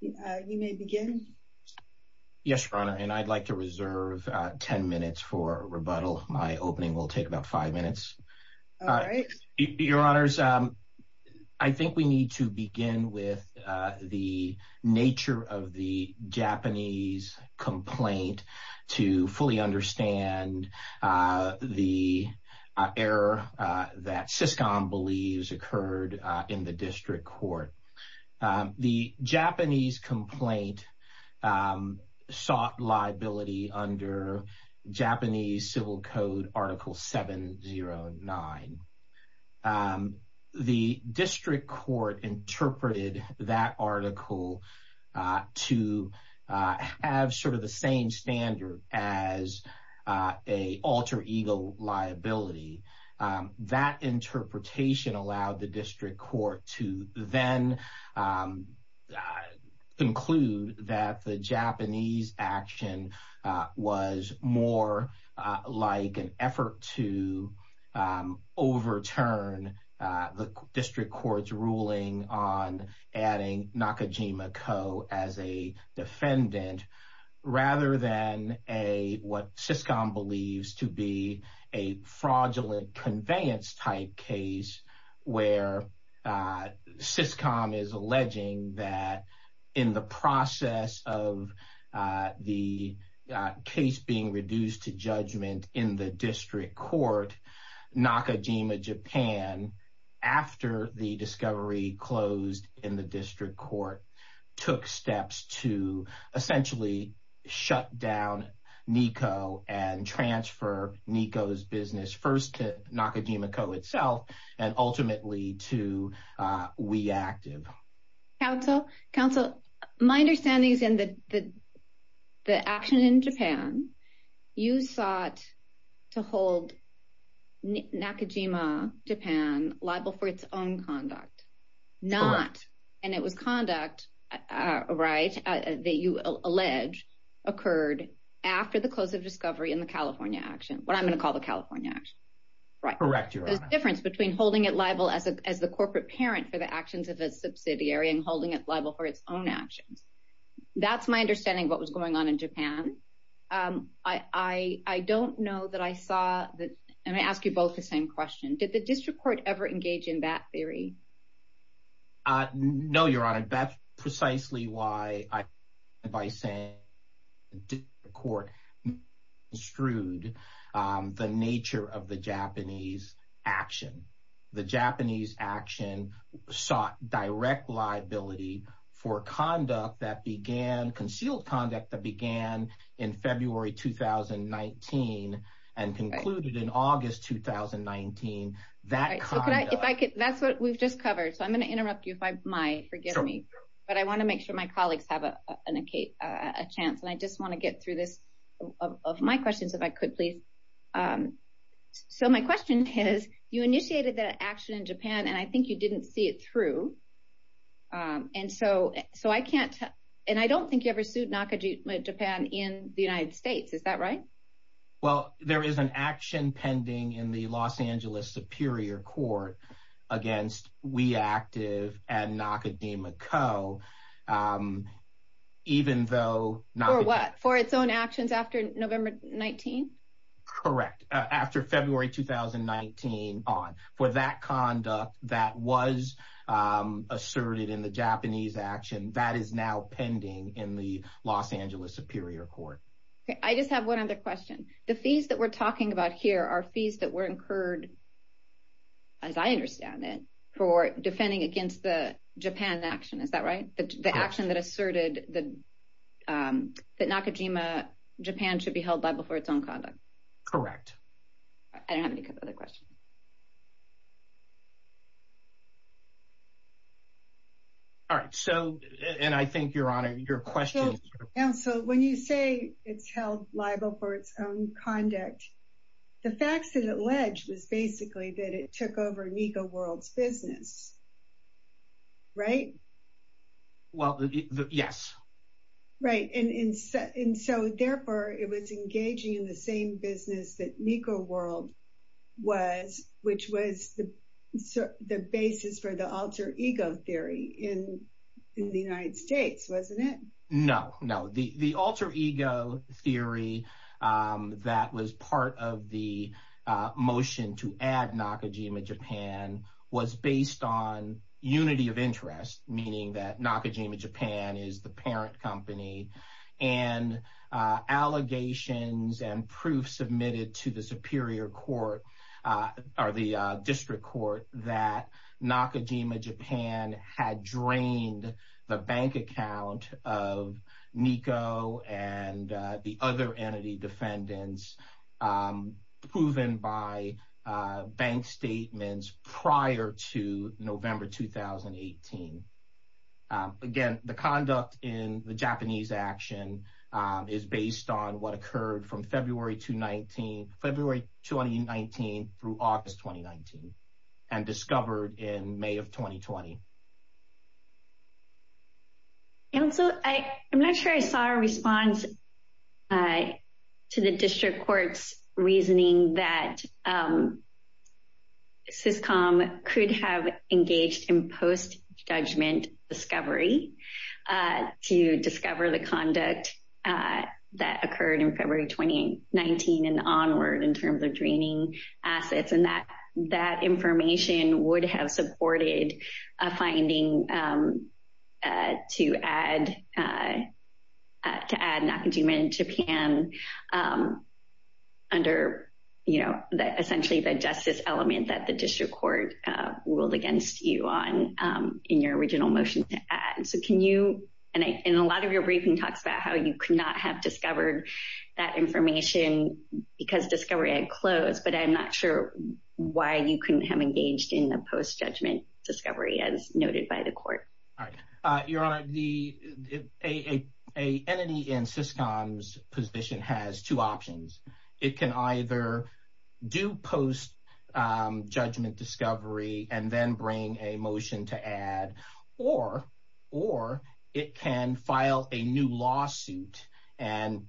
You may begin. Yes, Your Honor, and I'd like to reserve 10 minutes for rebuttal. My opening will take about five minutes. All right. Your Honors, I think we need to begin with the nature of the Japanese complaint to fully understand the error that Syscom believes occurred in the district court. The Japanese complaint sought liability under Japanese Civil Code Article 709. The district court interpreted that article to have sort of the same standard as an alter ego liability. That interpretation allowed the district court to then conclude that the Japanese action was more like an effort to overturn the district court's ruling on adding Nakajima Co. as a defendant rather than what Syscom believes to be a fraudulent conveyance type case where Syscom is alleging that in the process of the case being reduced to in the district court took steps to essentially shut down Nikko and transfer Nikko's business first to Nakajima Co. itself and ultimately to We Active. Counsel, my understanding is in the action in Japan, you sought to hold Nakajima Japan liable for its own conduct, not, and it was conduct, right, that you allege occurred after the close of discovery in the California action, what I'm going to call the California action, right? Correct, Your Honor. There's a difference between holding it liable as the corporate parent for the actions of a subsidiary and holding it in Japan. I don't know that I saw that, and I ask you both the same question, did the district court ever engage in that theory? No, Your Honor, that's precisely why I, by saying the district court construed the nature of the Japanese action. The Japanese action sought direct liability for conduct that began, concealed conduct that began in February 2019 and concluded in August 2019. That's what we've just covered, so I'm going to interrupt you if I might, forgive me, but I want to make sure my colleagues have a chance, and I just want to get through this of my questions if I could, please. So my question is, you initiated that action in Japan, and I think you didn't see it through, and so I can't, and I don't think you ever sued Nakajima Japan in the United States, is that right? Well, there is an action pending in the Los Angeles Superior Court against WeActive and Nakajima Co. even though... For what? For its actions after November 19? Correct, after February 2019 on, for that conduct that was asserted in the Japanese action, that is now pending in the Los Angeles Superior Court. Okay, I just have one other question. The fees that we're talking about here are fees that were incurred, as I understand it, for defending against the Japan action, is that right? The Nakajima Japan should be held liable for its own conduct. Correct. I don't have any other questions. All right, so, and I think, Your Honor, your question... So when you say it's held liable for its own conduct, the facts that it alleged was basically that it took over Nikko World's business, right? Well, yes. Right, and so therefore, it was engaging in the same business that Nikko World was, which was the basis for the alter ego theory in the United States, wasn't it? No, no, the alter ego theory was based on unity of interest, meaning that Nakajima Japan is the parent company, and allegations and proof submitted to the Superior Court, or the District Court, that Nakajima Japan had drained the bank account of Nikko and the other entity defendants proven by bank statements prior to November 2018. Again, the conduct in the Japanese action is based on what occurred from February 2019 through August 2019, and discovered in May of 2020. And also, I'm not sure I saw a response to the District Court's reasoning that Syscom could have engaged in post-judgment discovery to discover the conduct that occurred in February 2019 and onward in terms of draining assets, and that that information would have supported a finding to add Nakajima Japan under essentially the justice element that the District Court ruled against you on in your original motion to add. And a lot of your briefing talks about how you could not have discovered that information because discovery had closed, but I'm not sure why you couldn't have engaged in the post-judgment discovery as noted by the Court. Your Honor, an entity in Syscom's position has two options. It can either do post-judgment discovery and then bring a motion to add, or it can file a new lawsuit and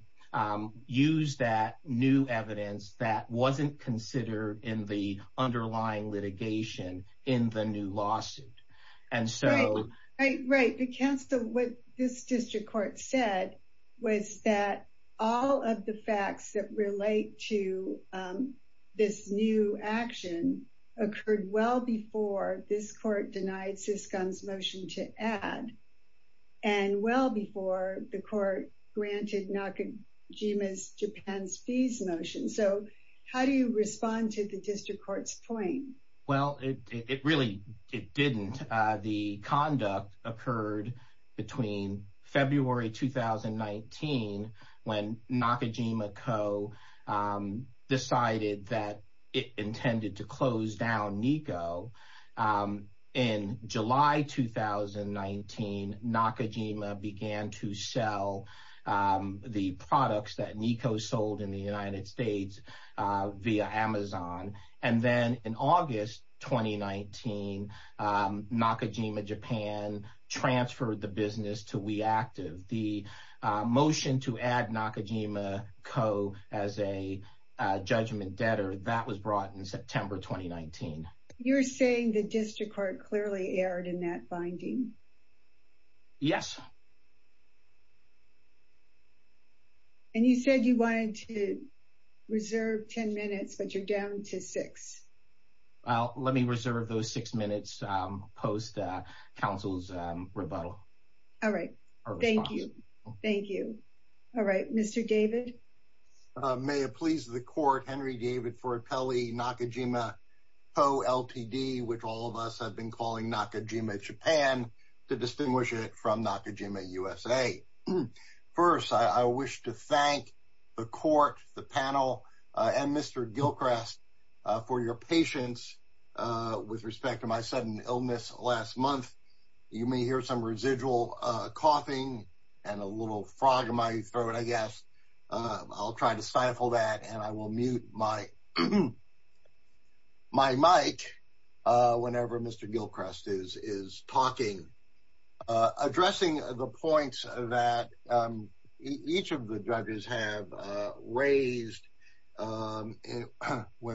use that new evidence that wasn't considered in the underlying litigation in the new lawsuit. And so... Right, right, right. What this District Court said was that all of the facts that relate to this new action occurred well before this Court denied Syscom's motion to add, and well before the Court granted Nakajima Japan's fees motion. So, how do you respond to the District Court's claim? Well, it really didn't. The conduct occurred between February 2019 when Nakajima Co. decided that it intended to close down Nikko. In July 2019, Nakajima began to sell the products that Nikko sold in the United States via Amazon. And then in August 2019, Nakajima Japan transferred the business to WeActive. The motion to add Nakajima Co. as a judgment debtor, that was brought in September 2019. You're saying the District Court clearly erred in that finding? Yes. And you said you wanted to reserve 10 minutes, but you're down to six. Well, let me reserve those six minutes post-Council's rebuttal. All right. Thank you. Thank you. All right. Mr. David? May it please the Court, Henry David Ford Pelley, Nakajima Co. Ltd., which all of us have been calling Nakajima Japan, to distinguish it from Nakajima USA. First, I wish to thank the Court, the panel, and Mr. Gilchrist for your patience with respect to my sudden illness last month. You may hear some residual coughing and a little frog in my throat, I guess. I'll try to stifle that, and I will mute my mic whenever Mr. Gilchrist is talking. Addressing the points that each of the judges have raised when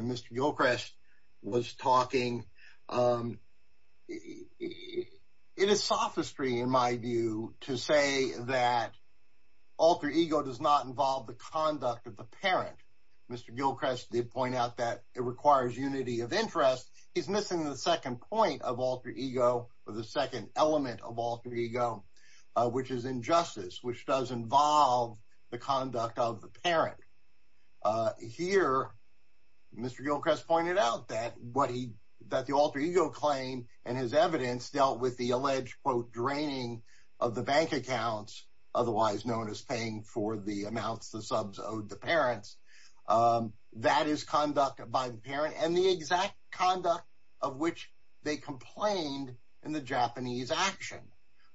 Mr. Gilchrist was talking, it is sophistry, in my view, to say that alter ego does not involve the conduct of the parent. Mr. Gilchrist did point out that it requires unity of interest. He's missing the second point of alter ego, or the second element of alter ego, which is injustice, which does involve the conduct of the parent. Here, Mr. Gilchrist pointed out that the alter ego claim and his evidence dealt with the alleged quote, draining of the bank accounts, otherwise known as paying for the amounts the subs owed the parents. That is conduct by the parent, and the exact conduct of which they complained in the Japanese action.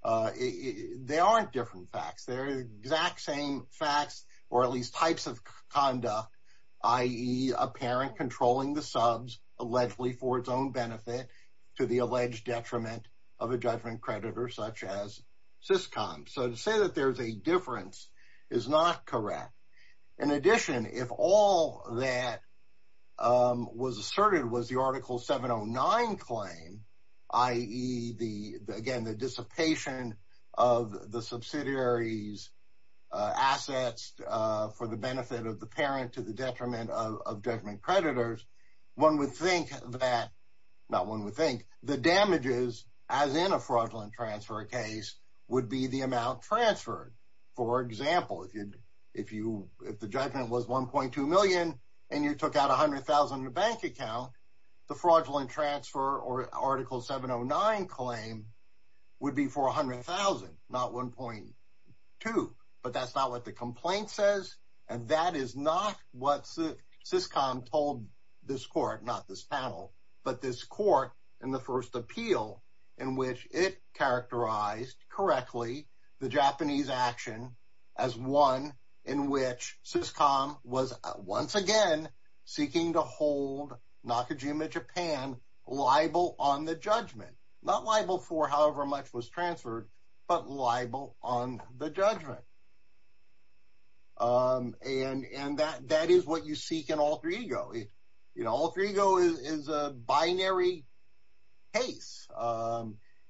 They aren't different facts. They're the exact same facts, or at least types of conduct, i.e., a parent controlling the subs, allegedly for its own benefit, to the alleged detriment of a judgment creditor, such as Syscom. So to say that there's a difference is not correct. In addition, if all that was asserted was the Article 709 claim, i.e., again, the dissipation of the subsidiary's assets for the benefit of the parent to the detriment of judgment creditors, one would think that, not one would think, the damages, as in a fraudulent transfer case, would be the amount transferred. For example, if the judgment was $1.2 million and you took out $100,000 in a bank account, the fraudulent transfer or Article 709 claim would be for $100,000, not $1.2. But that's not what the complaint says, and that is not what Syscom told this court, not this panel, but this court in the first appeal, in which it characterized correctly the Japanese action as one in which Syscom was once again seeking to hold Nakajima Japan liable on the judgment, not liable for however much was transferred, but liable on the judgment. And that is what you seek in alter ego. Alter ego is a binary case.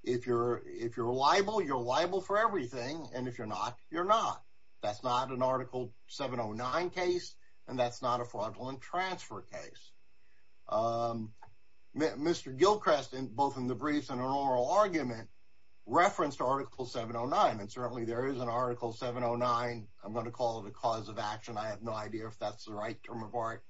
If you're liable, you're liable for everything, and if you're not, you're not. That's not an Article 709 case, and that's not a fraudulent transfer case. Mr. Gilchrist, both in the briefs and in oral argument, referenced Article 709, and certainly there is an Article 709. I'm going to call it a cause of action. I have no idea if that's the right term of art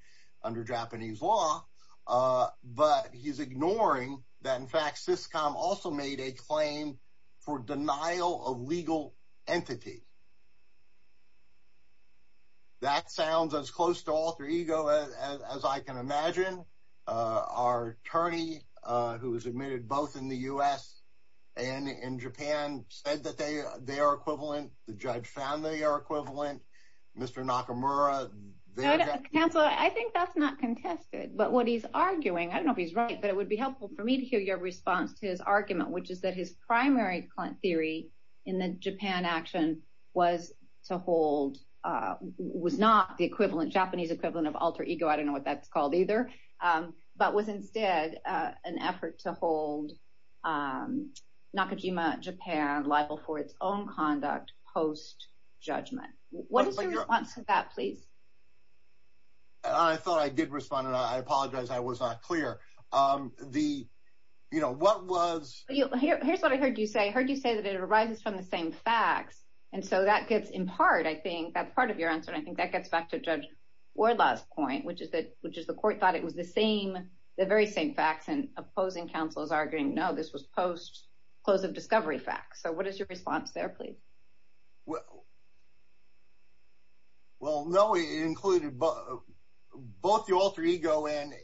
under Japanese law, but he's ignoring that, in fact, Syscom also made a claim for denial of legal entity. That sounds as close to alter ego as I can imagine. Our attorney, who was admitted both in the U.S. and in Japan, said that they are equivalent. The judge found they are equivalent. Mr. Nakamura. Counselor, I think that's not contested, but what he's arguing, I don't know if he's right, but it would be helpful for me to hear your response to his argument, which is that his primary theory in the Japan action was to hold, was not the equivalent, Japanese equivalent of alter ego. I don't know what that's called either, but was instead an effort to hold Nakajima Japan liable for its own conduct post-judgment. What is your response to that, please? I thought I did respond, and I apologize I was not clear. Here's what I heard you say. I heard you say that it arises from the same facts, and so that gets in part, I think, that's part of your answer, and I think that gets back to Judge Wardlaw's point, which is the court thought it was the same, the very same facts, and opposing counsel is arguing, no, this was post close of discovery facts. So what is your response there, please? Well, no, it included both the alter ego and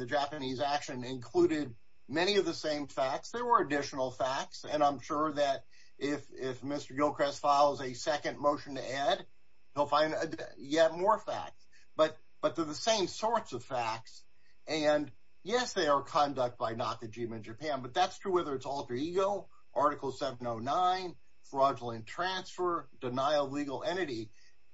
the Japanese action included many of the same facts. There were additional facts, and I'm sure that if Mr. Gilchrist follows a second motion to add, he'll find yet more facts, but they're the same sorts of facts, and yes, they are conduct by Nakajima Japan, but that's true whether it's alter ego, Article 709, fraudulent transfer, denial of legal entity,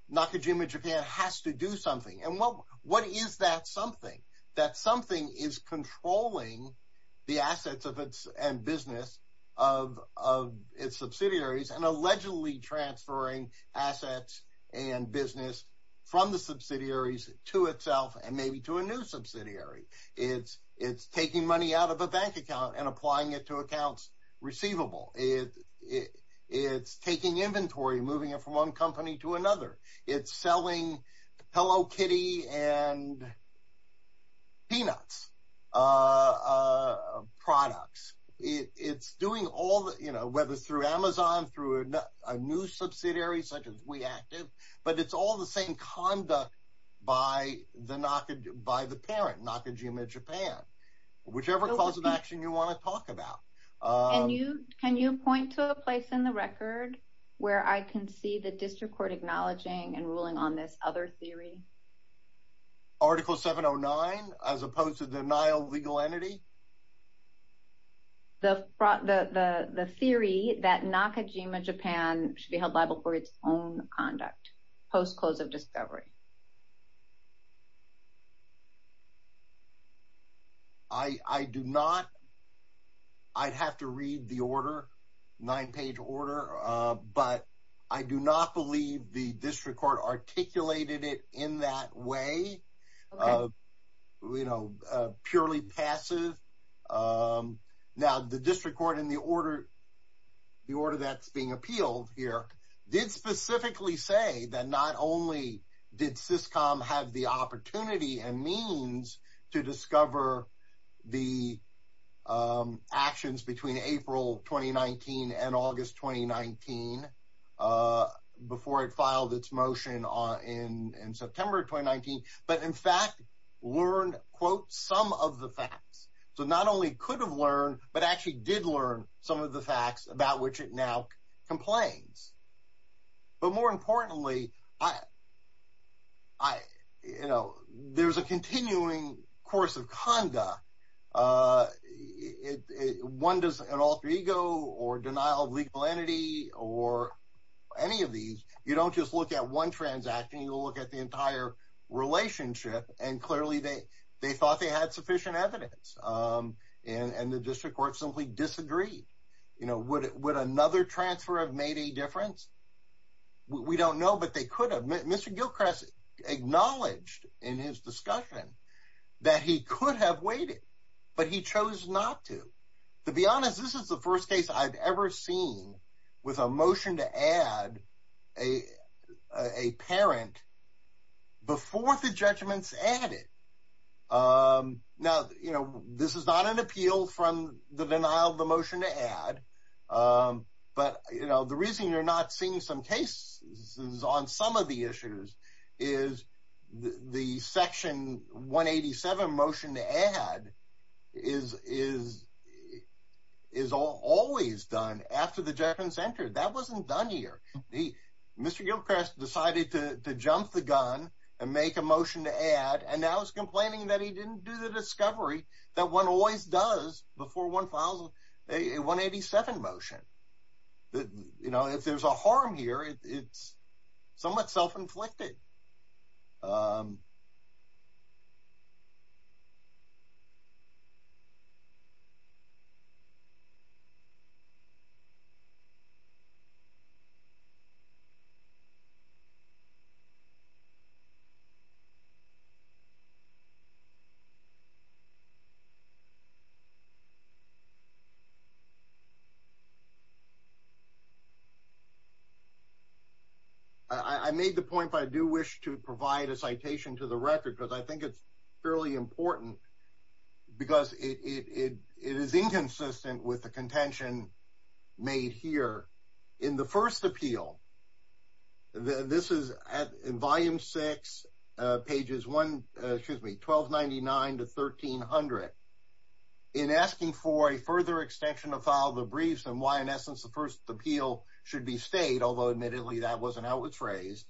Nakajima Japan has to do something, and what is that something? That something is controlling the assets of its end business, of its subsidiaries, and allegedly transferring assets and business from the subsidiaries to itself, and maybe to a new subsidiary. It's taking money out of a bank account and applying it to accounts receivable. It's taking inventory, moving it from one company to another. It's selling Hello Kitty and Peanuts products. It's doing all the, whether it's through Amazon, through a new subsidiary such as WeActive, but it's all the same conduct by the parent, Nakajima Japan, whichever cause of action you want to talk about. Can you point to a place in the record where I can see the district court acknowledging and ruling on this other theory? Article 709, as opposed to denial of legal entity? The theory that Nakajima Japan should be held liable for its own conduct, post-close of discovery. I do not. I'd have to read the order, nine-page order, but I do not believe the district court articulated it in that way, purely passive. Now, the district court, in the order that's being appealed here, did specifically say that not only did Syscom have the opportunity and means to discover the actions between April 2019 and August 2019, before it filed its motion in September 2019, but in fact learned, quote, some of the facts. So not only could have learned, but actually did learn some of the facts about which it now complains. But more importantly, I, you know, there's a continuing course of conduct. One does an alter ego or denial of legal entity or any of these, you don't just look at one transaction, you look at the entire relationship. And clearly, they thought they had sufficient evidence. And the district court disagreed. Would another transfer have made a difference? We don't know, but they could have. Mr. Gilchrist acknowledged in his discussion that he could have waited, but he chose not to. To be honest, this is the first case I've ever seen with a motion to add a parent before the judgments added. Now, you know, this is not an appeal from the denial of the motion to add. But you know, the reason you're not seeing some cases on some of the issues is the section 187 motion to add is, is, is always done after the Germans entered that wasn't done here. Mr. Gilchrist decided to jump the gun and make a motion to add and now he's complaining that he didn't do the discovery that one always does before one files a 187 motion. You know, if there's a harm here, it's somewhat self inflicted. I made the point if I do wish to provide a citation to the record, because I think it's fairly important, because it is inconsistent with the contention made here in the first appeal. This is at volume six, pages one, excuse me, 1299 to 1300. In asking for a further extension to file the briefs and why in essence, the first appeal should be stayed, although admittedly, that wasn't how it was phrased.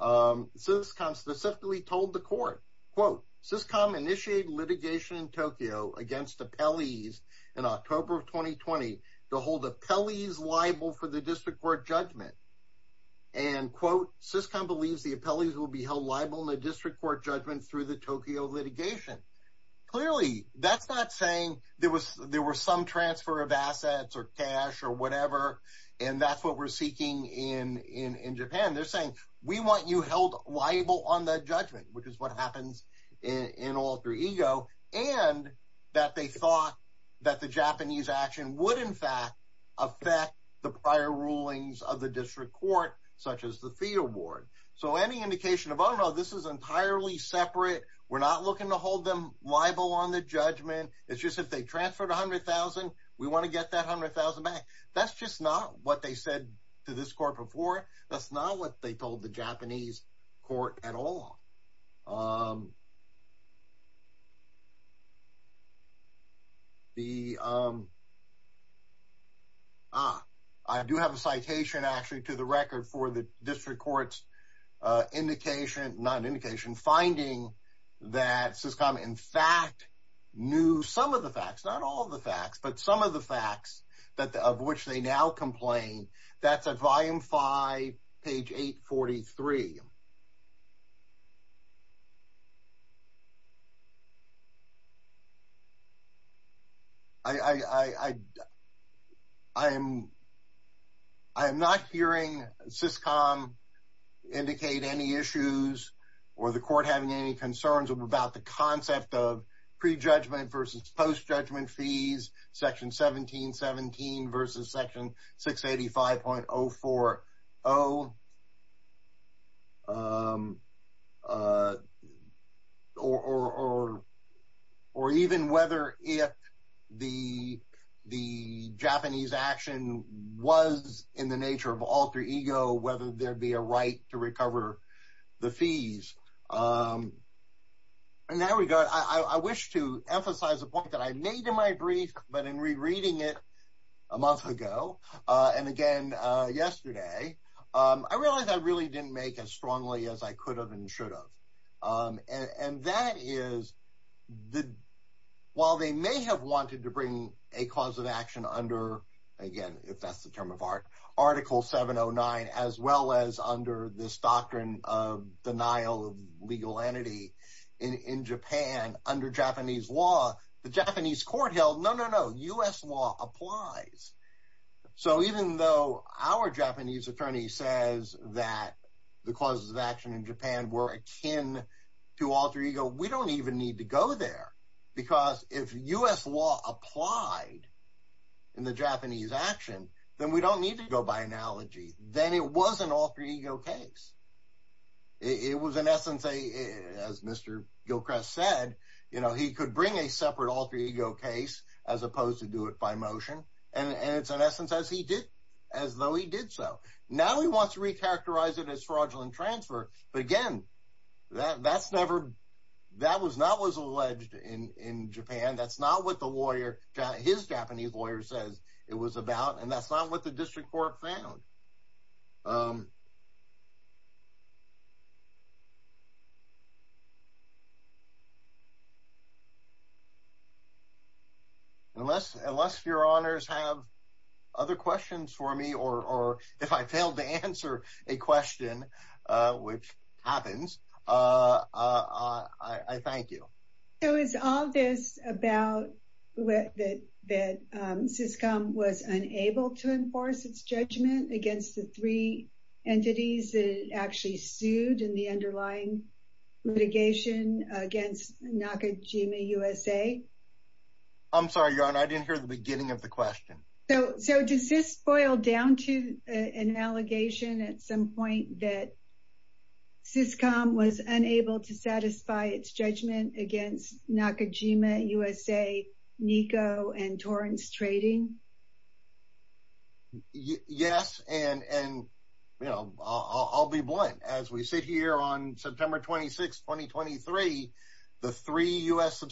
So this comes specifically told the court, quote, syscom initiated litigation in Tokyo against appellees in October of 2020, to hold appellees liable for the district court judgment. And quote, syscom believes the appellees will be held liable in the district court judgment through the Tokyo litigation. Clearly, that's not saying there was some transfer of assets or cash or whatever. And that's what we're seeking in Japan, they're saying, we want you held liable on the judgment, which is what happens in alter ego, and that they thought that the Japanese action would in fact, affect the prior rulings of the district court, such as the field ward. So any indication of Oh, no, this is entirely separate. We're not looking to hold them liable on the judgment. It's just if they transferred 100,000, we want to get that 100,000 back. That's just not what they said to this court before. That's not what they told the Japanese court at all. The I do have a citation actually to the record for the district courts indication, not an indication finding that syscom in fact, knew some of the facts, not all the facts, but some of the facts that the of which they now complain, that's a volume five, page 843. I, I am, I am not hearing syscom indicate any issues, or the court having any concerns about the concept of pre judgment versus post judgment fees, section 1717 versus section 685.040. Or, or, or even whether if the, the Japanese action was in the nature of alter ego, whether there'd be a right to recover the fees. And now we got I wish to emphasize a point that I made in my brief, but in rereading it a month ago, and again, yesterday, I realized I really didn't make as strongly as I could have and should have. And that is the while they may have wanted to bring a cause of action under, again, if that's the term of art, Article 709, as well as under this doctrine of denial of legal entity in Japan, under Japanese law, the Japanese court held no, no, no US law applies. So even though our Japanese attorney says that the causes of action in Japan were akin to alter ego, we don't even need to go there. Because if US law applied in the Japanese action, then we don't need to go by analogy, then it was an alter ego case. It was an essence, as Mr. Gilchrist said, you know, he could bring a separate alter ego case, as opposed to do it by motion. And it's an essence as he did, as though he did. So now we want to recharacterize it as fraudulent transfer. But again, that that's never that was not was alleged in Japan. That's not what the lawyer, his Japanese lawyer says it was about. And that's not what the district court found. Unless unless your honors have other questions for me, or if I failed to answer a question, which happens, I thank you. So is all this about that, that syscom was unable to enforce its judgment against the three entities that actually sued in the underlying litigation against Nakajima USA? I'm sorry, your honor, I didn't hear the beginning of the question. So so does this boil down to an allegation at some point that syscom was unable to satisfy its judgment against Nakajima USA, Nico and torrents trading? Yes, and and, you know, I'll be blunt, as we sit here on September 26 2023. The three US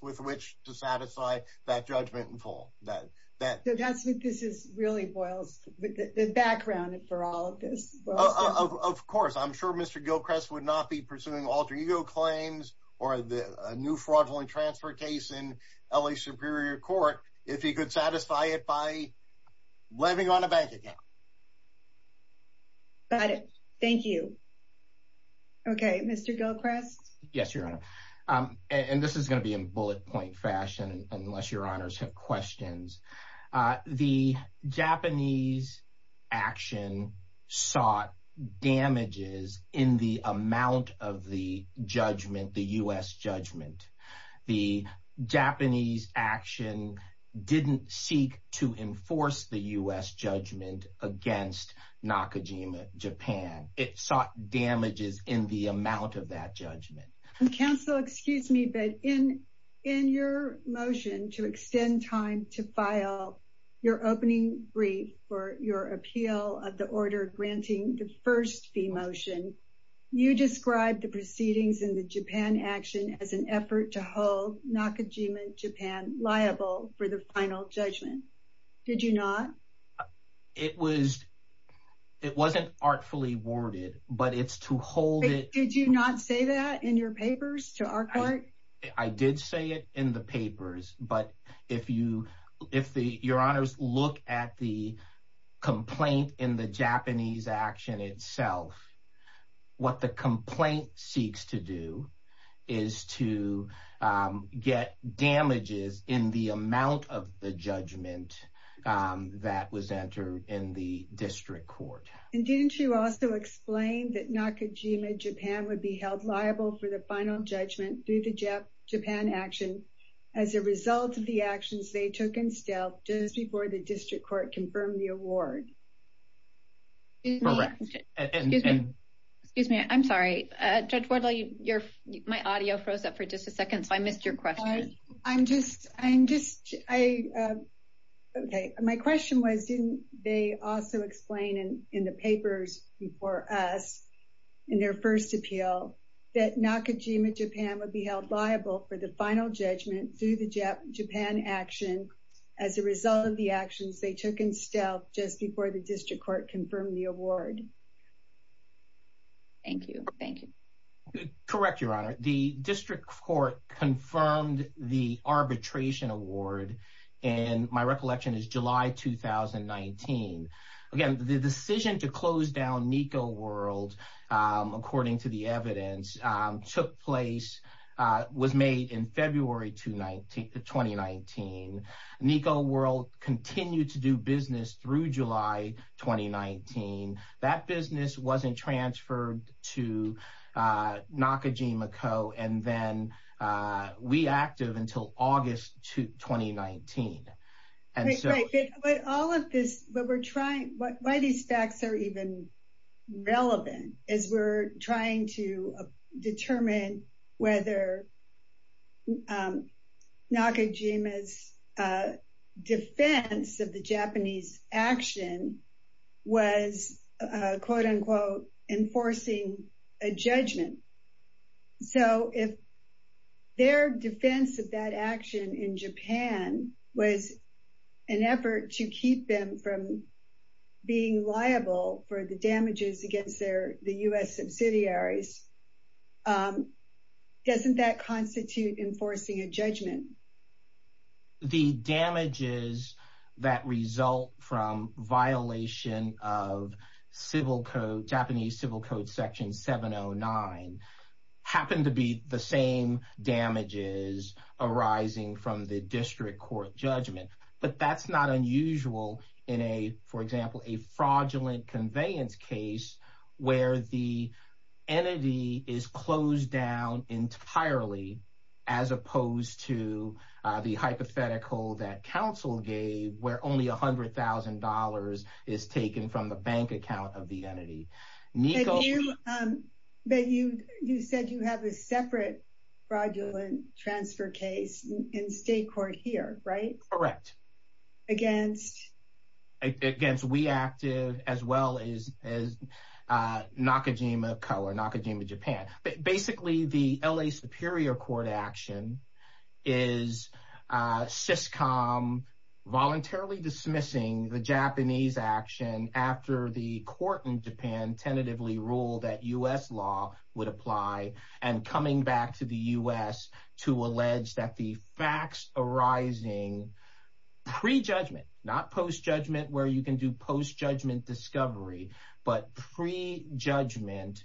with which to satisfy that judgment in full that that this is really boils the background for all of this, of course, I'm sure Mr. Gilchrist would not be pursuing alter ego claims, or the new fraudulent transfer case in LA Superior Court, if he could satisfy it by living on a bank account. But thank you. Okay, Mr. Gilchrist. Yes, your honor. And this is going to be in bullet point fashion, unless your honors have questions. The Japanese action sought damages in the amount of the judgment, the US judgment, the Japanese action didn't seek to enforce the US judgment against Nakajima Japan, it sought damages in the amount of that judgment. Counsel, excuse me, but in in your motion to extend time to file your opening brief for your appeal of the order granting the first fee motion, you described the proceedings in the Japan action as an effort to hold Nakajima Japan liable for the final judgment. Did you not? It was, it wasn't artfully worded, but it's to hold it. Did you not say that in your papers to our court? I did say it in the papers. But if you if the your honors look at the complaint in the Japanese action itself, what the complaint seeks to do is to get damages in the amount of the was entered in the district court. And didn't you also explain that Nakajima Japan would be held liable for the final judgment through the Japan action, as a result of the actions they took in stealth just before the district court confirmed the award? Correct. Excuse me, I'm sorry, Judge Wardley, you're my audio froze up for just a second. So I missed your question. I'm just I'm just I. Okay, my question was, didn't they also explain in the papers before us in their first appeal that Nakajima Japan would be held liable for the final judgment through the Japan action as a result of the actions they took in stealth just before the district court confirmed the award? Thank you. Thank you. Correct, Your Honor, the district court confirmed the arbitration award. And my recollection is July 2019. Again, the decision to close down Nico world, according to the evidence took place was made in February to 2019. Nico world continued to do business through July 2019. That business wasn't transferred to Nakajima Co. And then we active until August 2019. And so all of this, what we're trying, why these facts are even relevant is we're trying to determine whether Nakajima's defense of the Japanese action was, quote unquote, enforcing a judgment. So if their defense of that action in Japan was an effort to keep them from being liable for the damages against their the US subsidiaries, doesn't that constitute enforcing a judgment? The damages that result from violation of Japanese civil code section 709 happen to be the same damages arising from the district court judgment. But that's not unusual in a, for example, a fraudulent conveyance case where the entity is closed down entirely, as opposed to the hypothetical that counsel gave where only $100,000 is taken from the bank account of the entity. But you said you have a separate fraudulent transfer case in state court here, right? Correct. Against? Against we active as well as Nakajima Co. or Nakajima Japan. Basically the LA superior court action is Syscom voluntarily dismissing the Japanese action after the court in Japan tentatively ruled that US law would apply and coming back to the US to allege that the facts arising pre-judgment, not post-judgment where you can do post-judgment discovery, but pre-judgment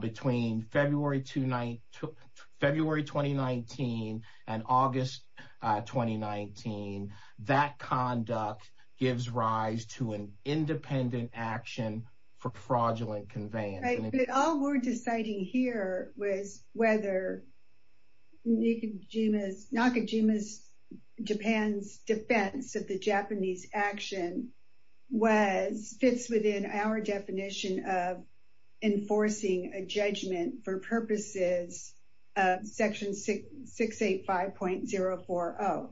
between February 2019 and August 2019. That conduct gives rise to an independent action for fraudulent conveyance. All we're deciding here was whether Nakajima Japan's defense of the judgment for purposes of section 685.040.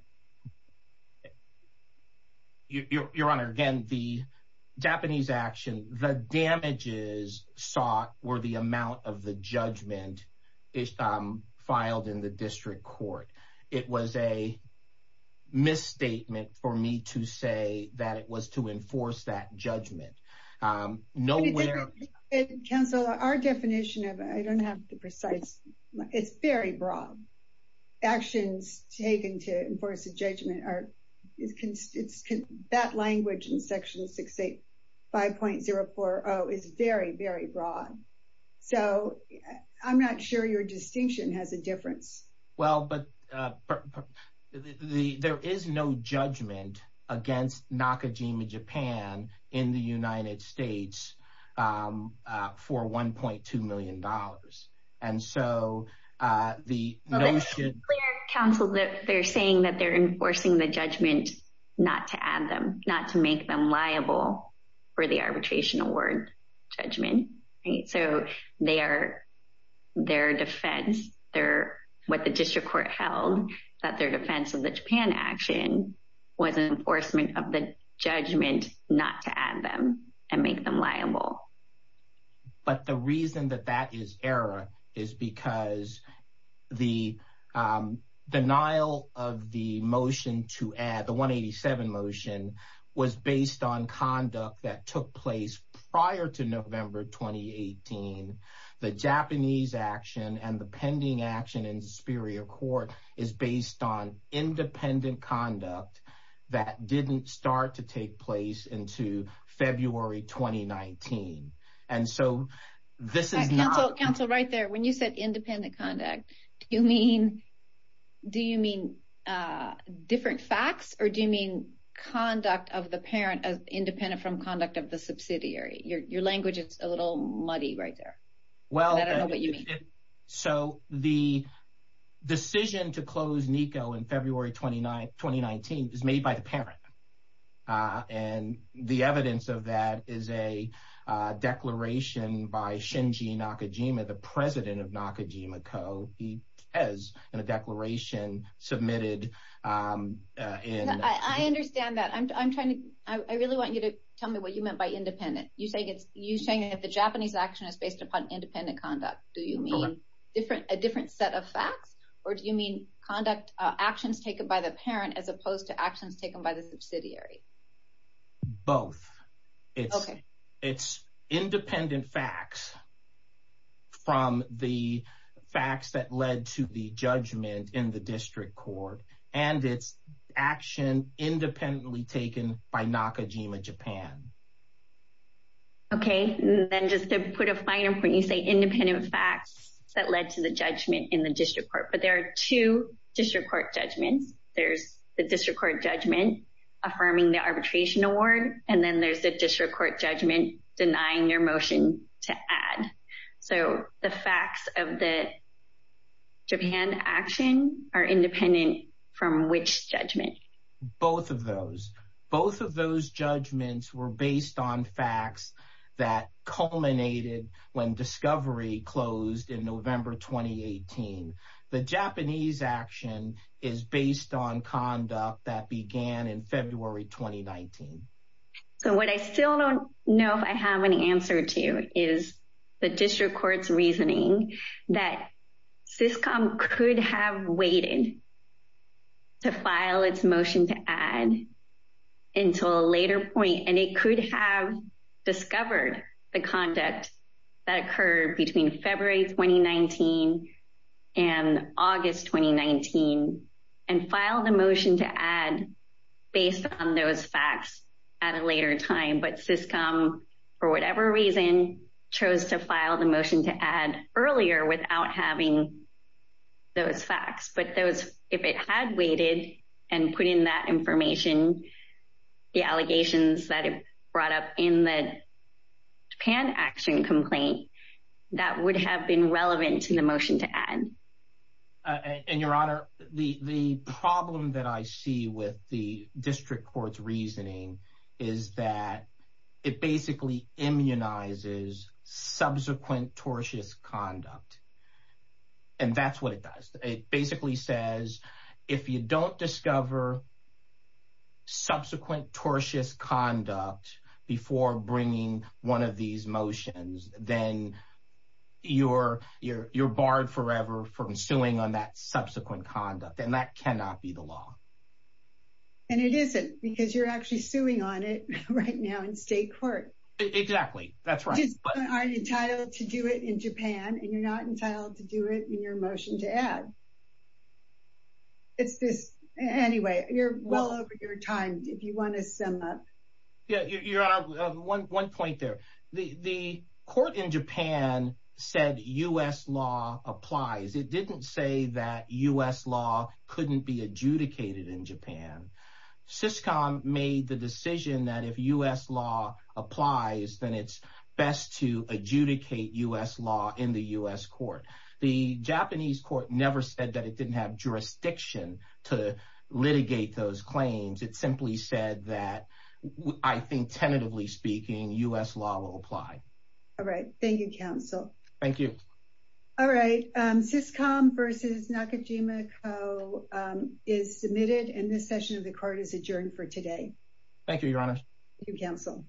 Your Honor, again, the Japanese action, the damages sought were the amount of the judgment filed in the district court. It was a misstatement for me to say that it was to enforce that judgment. But counsel, our definition of it, I don't have the precise, it's very broad. Actions taken to enforce a judgment, that language in section 685.040 is very, very broad. So I'm not sure your distinction has a difference. Well, but there is no judgment against Nakajima Japan in the United States for $1.2 million. And so the notion- Counsel, they're saying that they're enforcing the judgment not to add them, not to make them liable for the arbitration award judgment. So their defense, what the district court held, that their defense of the Japan action was an enforcement of the judgment not to add them and make them liable. But the reason that that is error is because the denial of the motion to add, the 187 motion, was based on conduct that took place prior to November 2018. The Japanese action and the pending action in Superior Court is based on independent conduct that didn't start to take place into February 2019. And so this is not- Counsel, right there, when you said independent conduct, do you mean different facts or do you mean independent from conduct of the subsidiary? Your language is a little muddy right there. Well- And I don't know what you mean. So the decision to close Nikko in February 2019 was made by the parent. And the evidence of that is a declaration by Shinji Nakajima, the president of Nakajima Co., he has a declaration submitted- I understand that. I'm trying to, I really want you to tell me what you meant by independent. You're saying that the Japanese action is based upon independent conduct. Do you mean a different set of facts or do you mean conduct actions taken by the parent as opposed to actions taken by the subsidiary? Both. It's independent facts from the facts that led to the judgment in the district court. And it's action independently taken by Nakajima Japan. Okay. And then just to put a finer point, you say independent facts that led to the judgment in the district court, but there are two district court judgments. There's the district court judgment affirming the arbitration award. And then there's the district court judgment denying your motion to add. So the facts of the Japan action are independent from which judgment? Both of those. Both of those judgments were based on facts that culminated when discovery closed in November, 2018. The Japanese action is based on conduct that began in February, 2019. So what I still don't know if I have any answer to is the district court's reasoning that Syscom could have waited to file its motion to add until a later point. And it could have discovered the conduct that occurred between February, 2019 and August, 2019 and filed a motion to add based on those facts at a later time. But Syscom, for whatever reason, chose to those facts. But if it had waited and put in that information, the allegations that it brought up in the Japan action complaint, that would have been relevant to the motion to add. And Your Honor, the problem that I see with the district court's reasoning is that it basically immunizes subsequent tortious conduct. And that's what it does. It basically says, if you don't discover subsequent tortious conduct before bringing one of these motions, then you're barred forever from suing on that subsequent conduct. And that cannot be the law. And it isn't because you're actually suing on it right now in state court. Exactly. That's right. You just aren't entitled to do it in Japan, and you're not entitled to do it in your motion to add. It's this. Anyway, you're well over your time, if you want to sum up. Yeah, Your Honor, one point there. The court in Japan said U.S. law applies. It didn't say that U.S. law couldn't be adjudicated in Japan. Syscom made the decision that if U.S. law applies, then it's best to adjudicate U.S. law in the U.S. court. The Japanese court never said that it didn't have jurisdiction to litigate those claims. It simply said that, I think, tentatively speaking, U.S. law will apply. All right. Thank you, counsel. Thank you. All right. Syscom versus Nakajima Co. is submitted, and this session of the court is adjourned for today. Thank you, Your Honor. Thank you, counsel.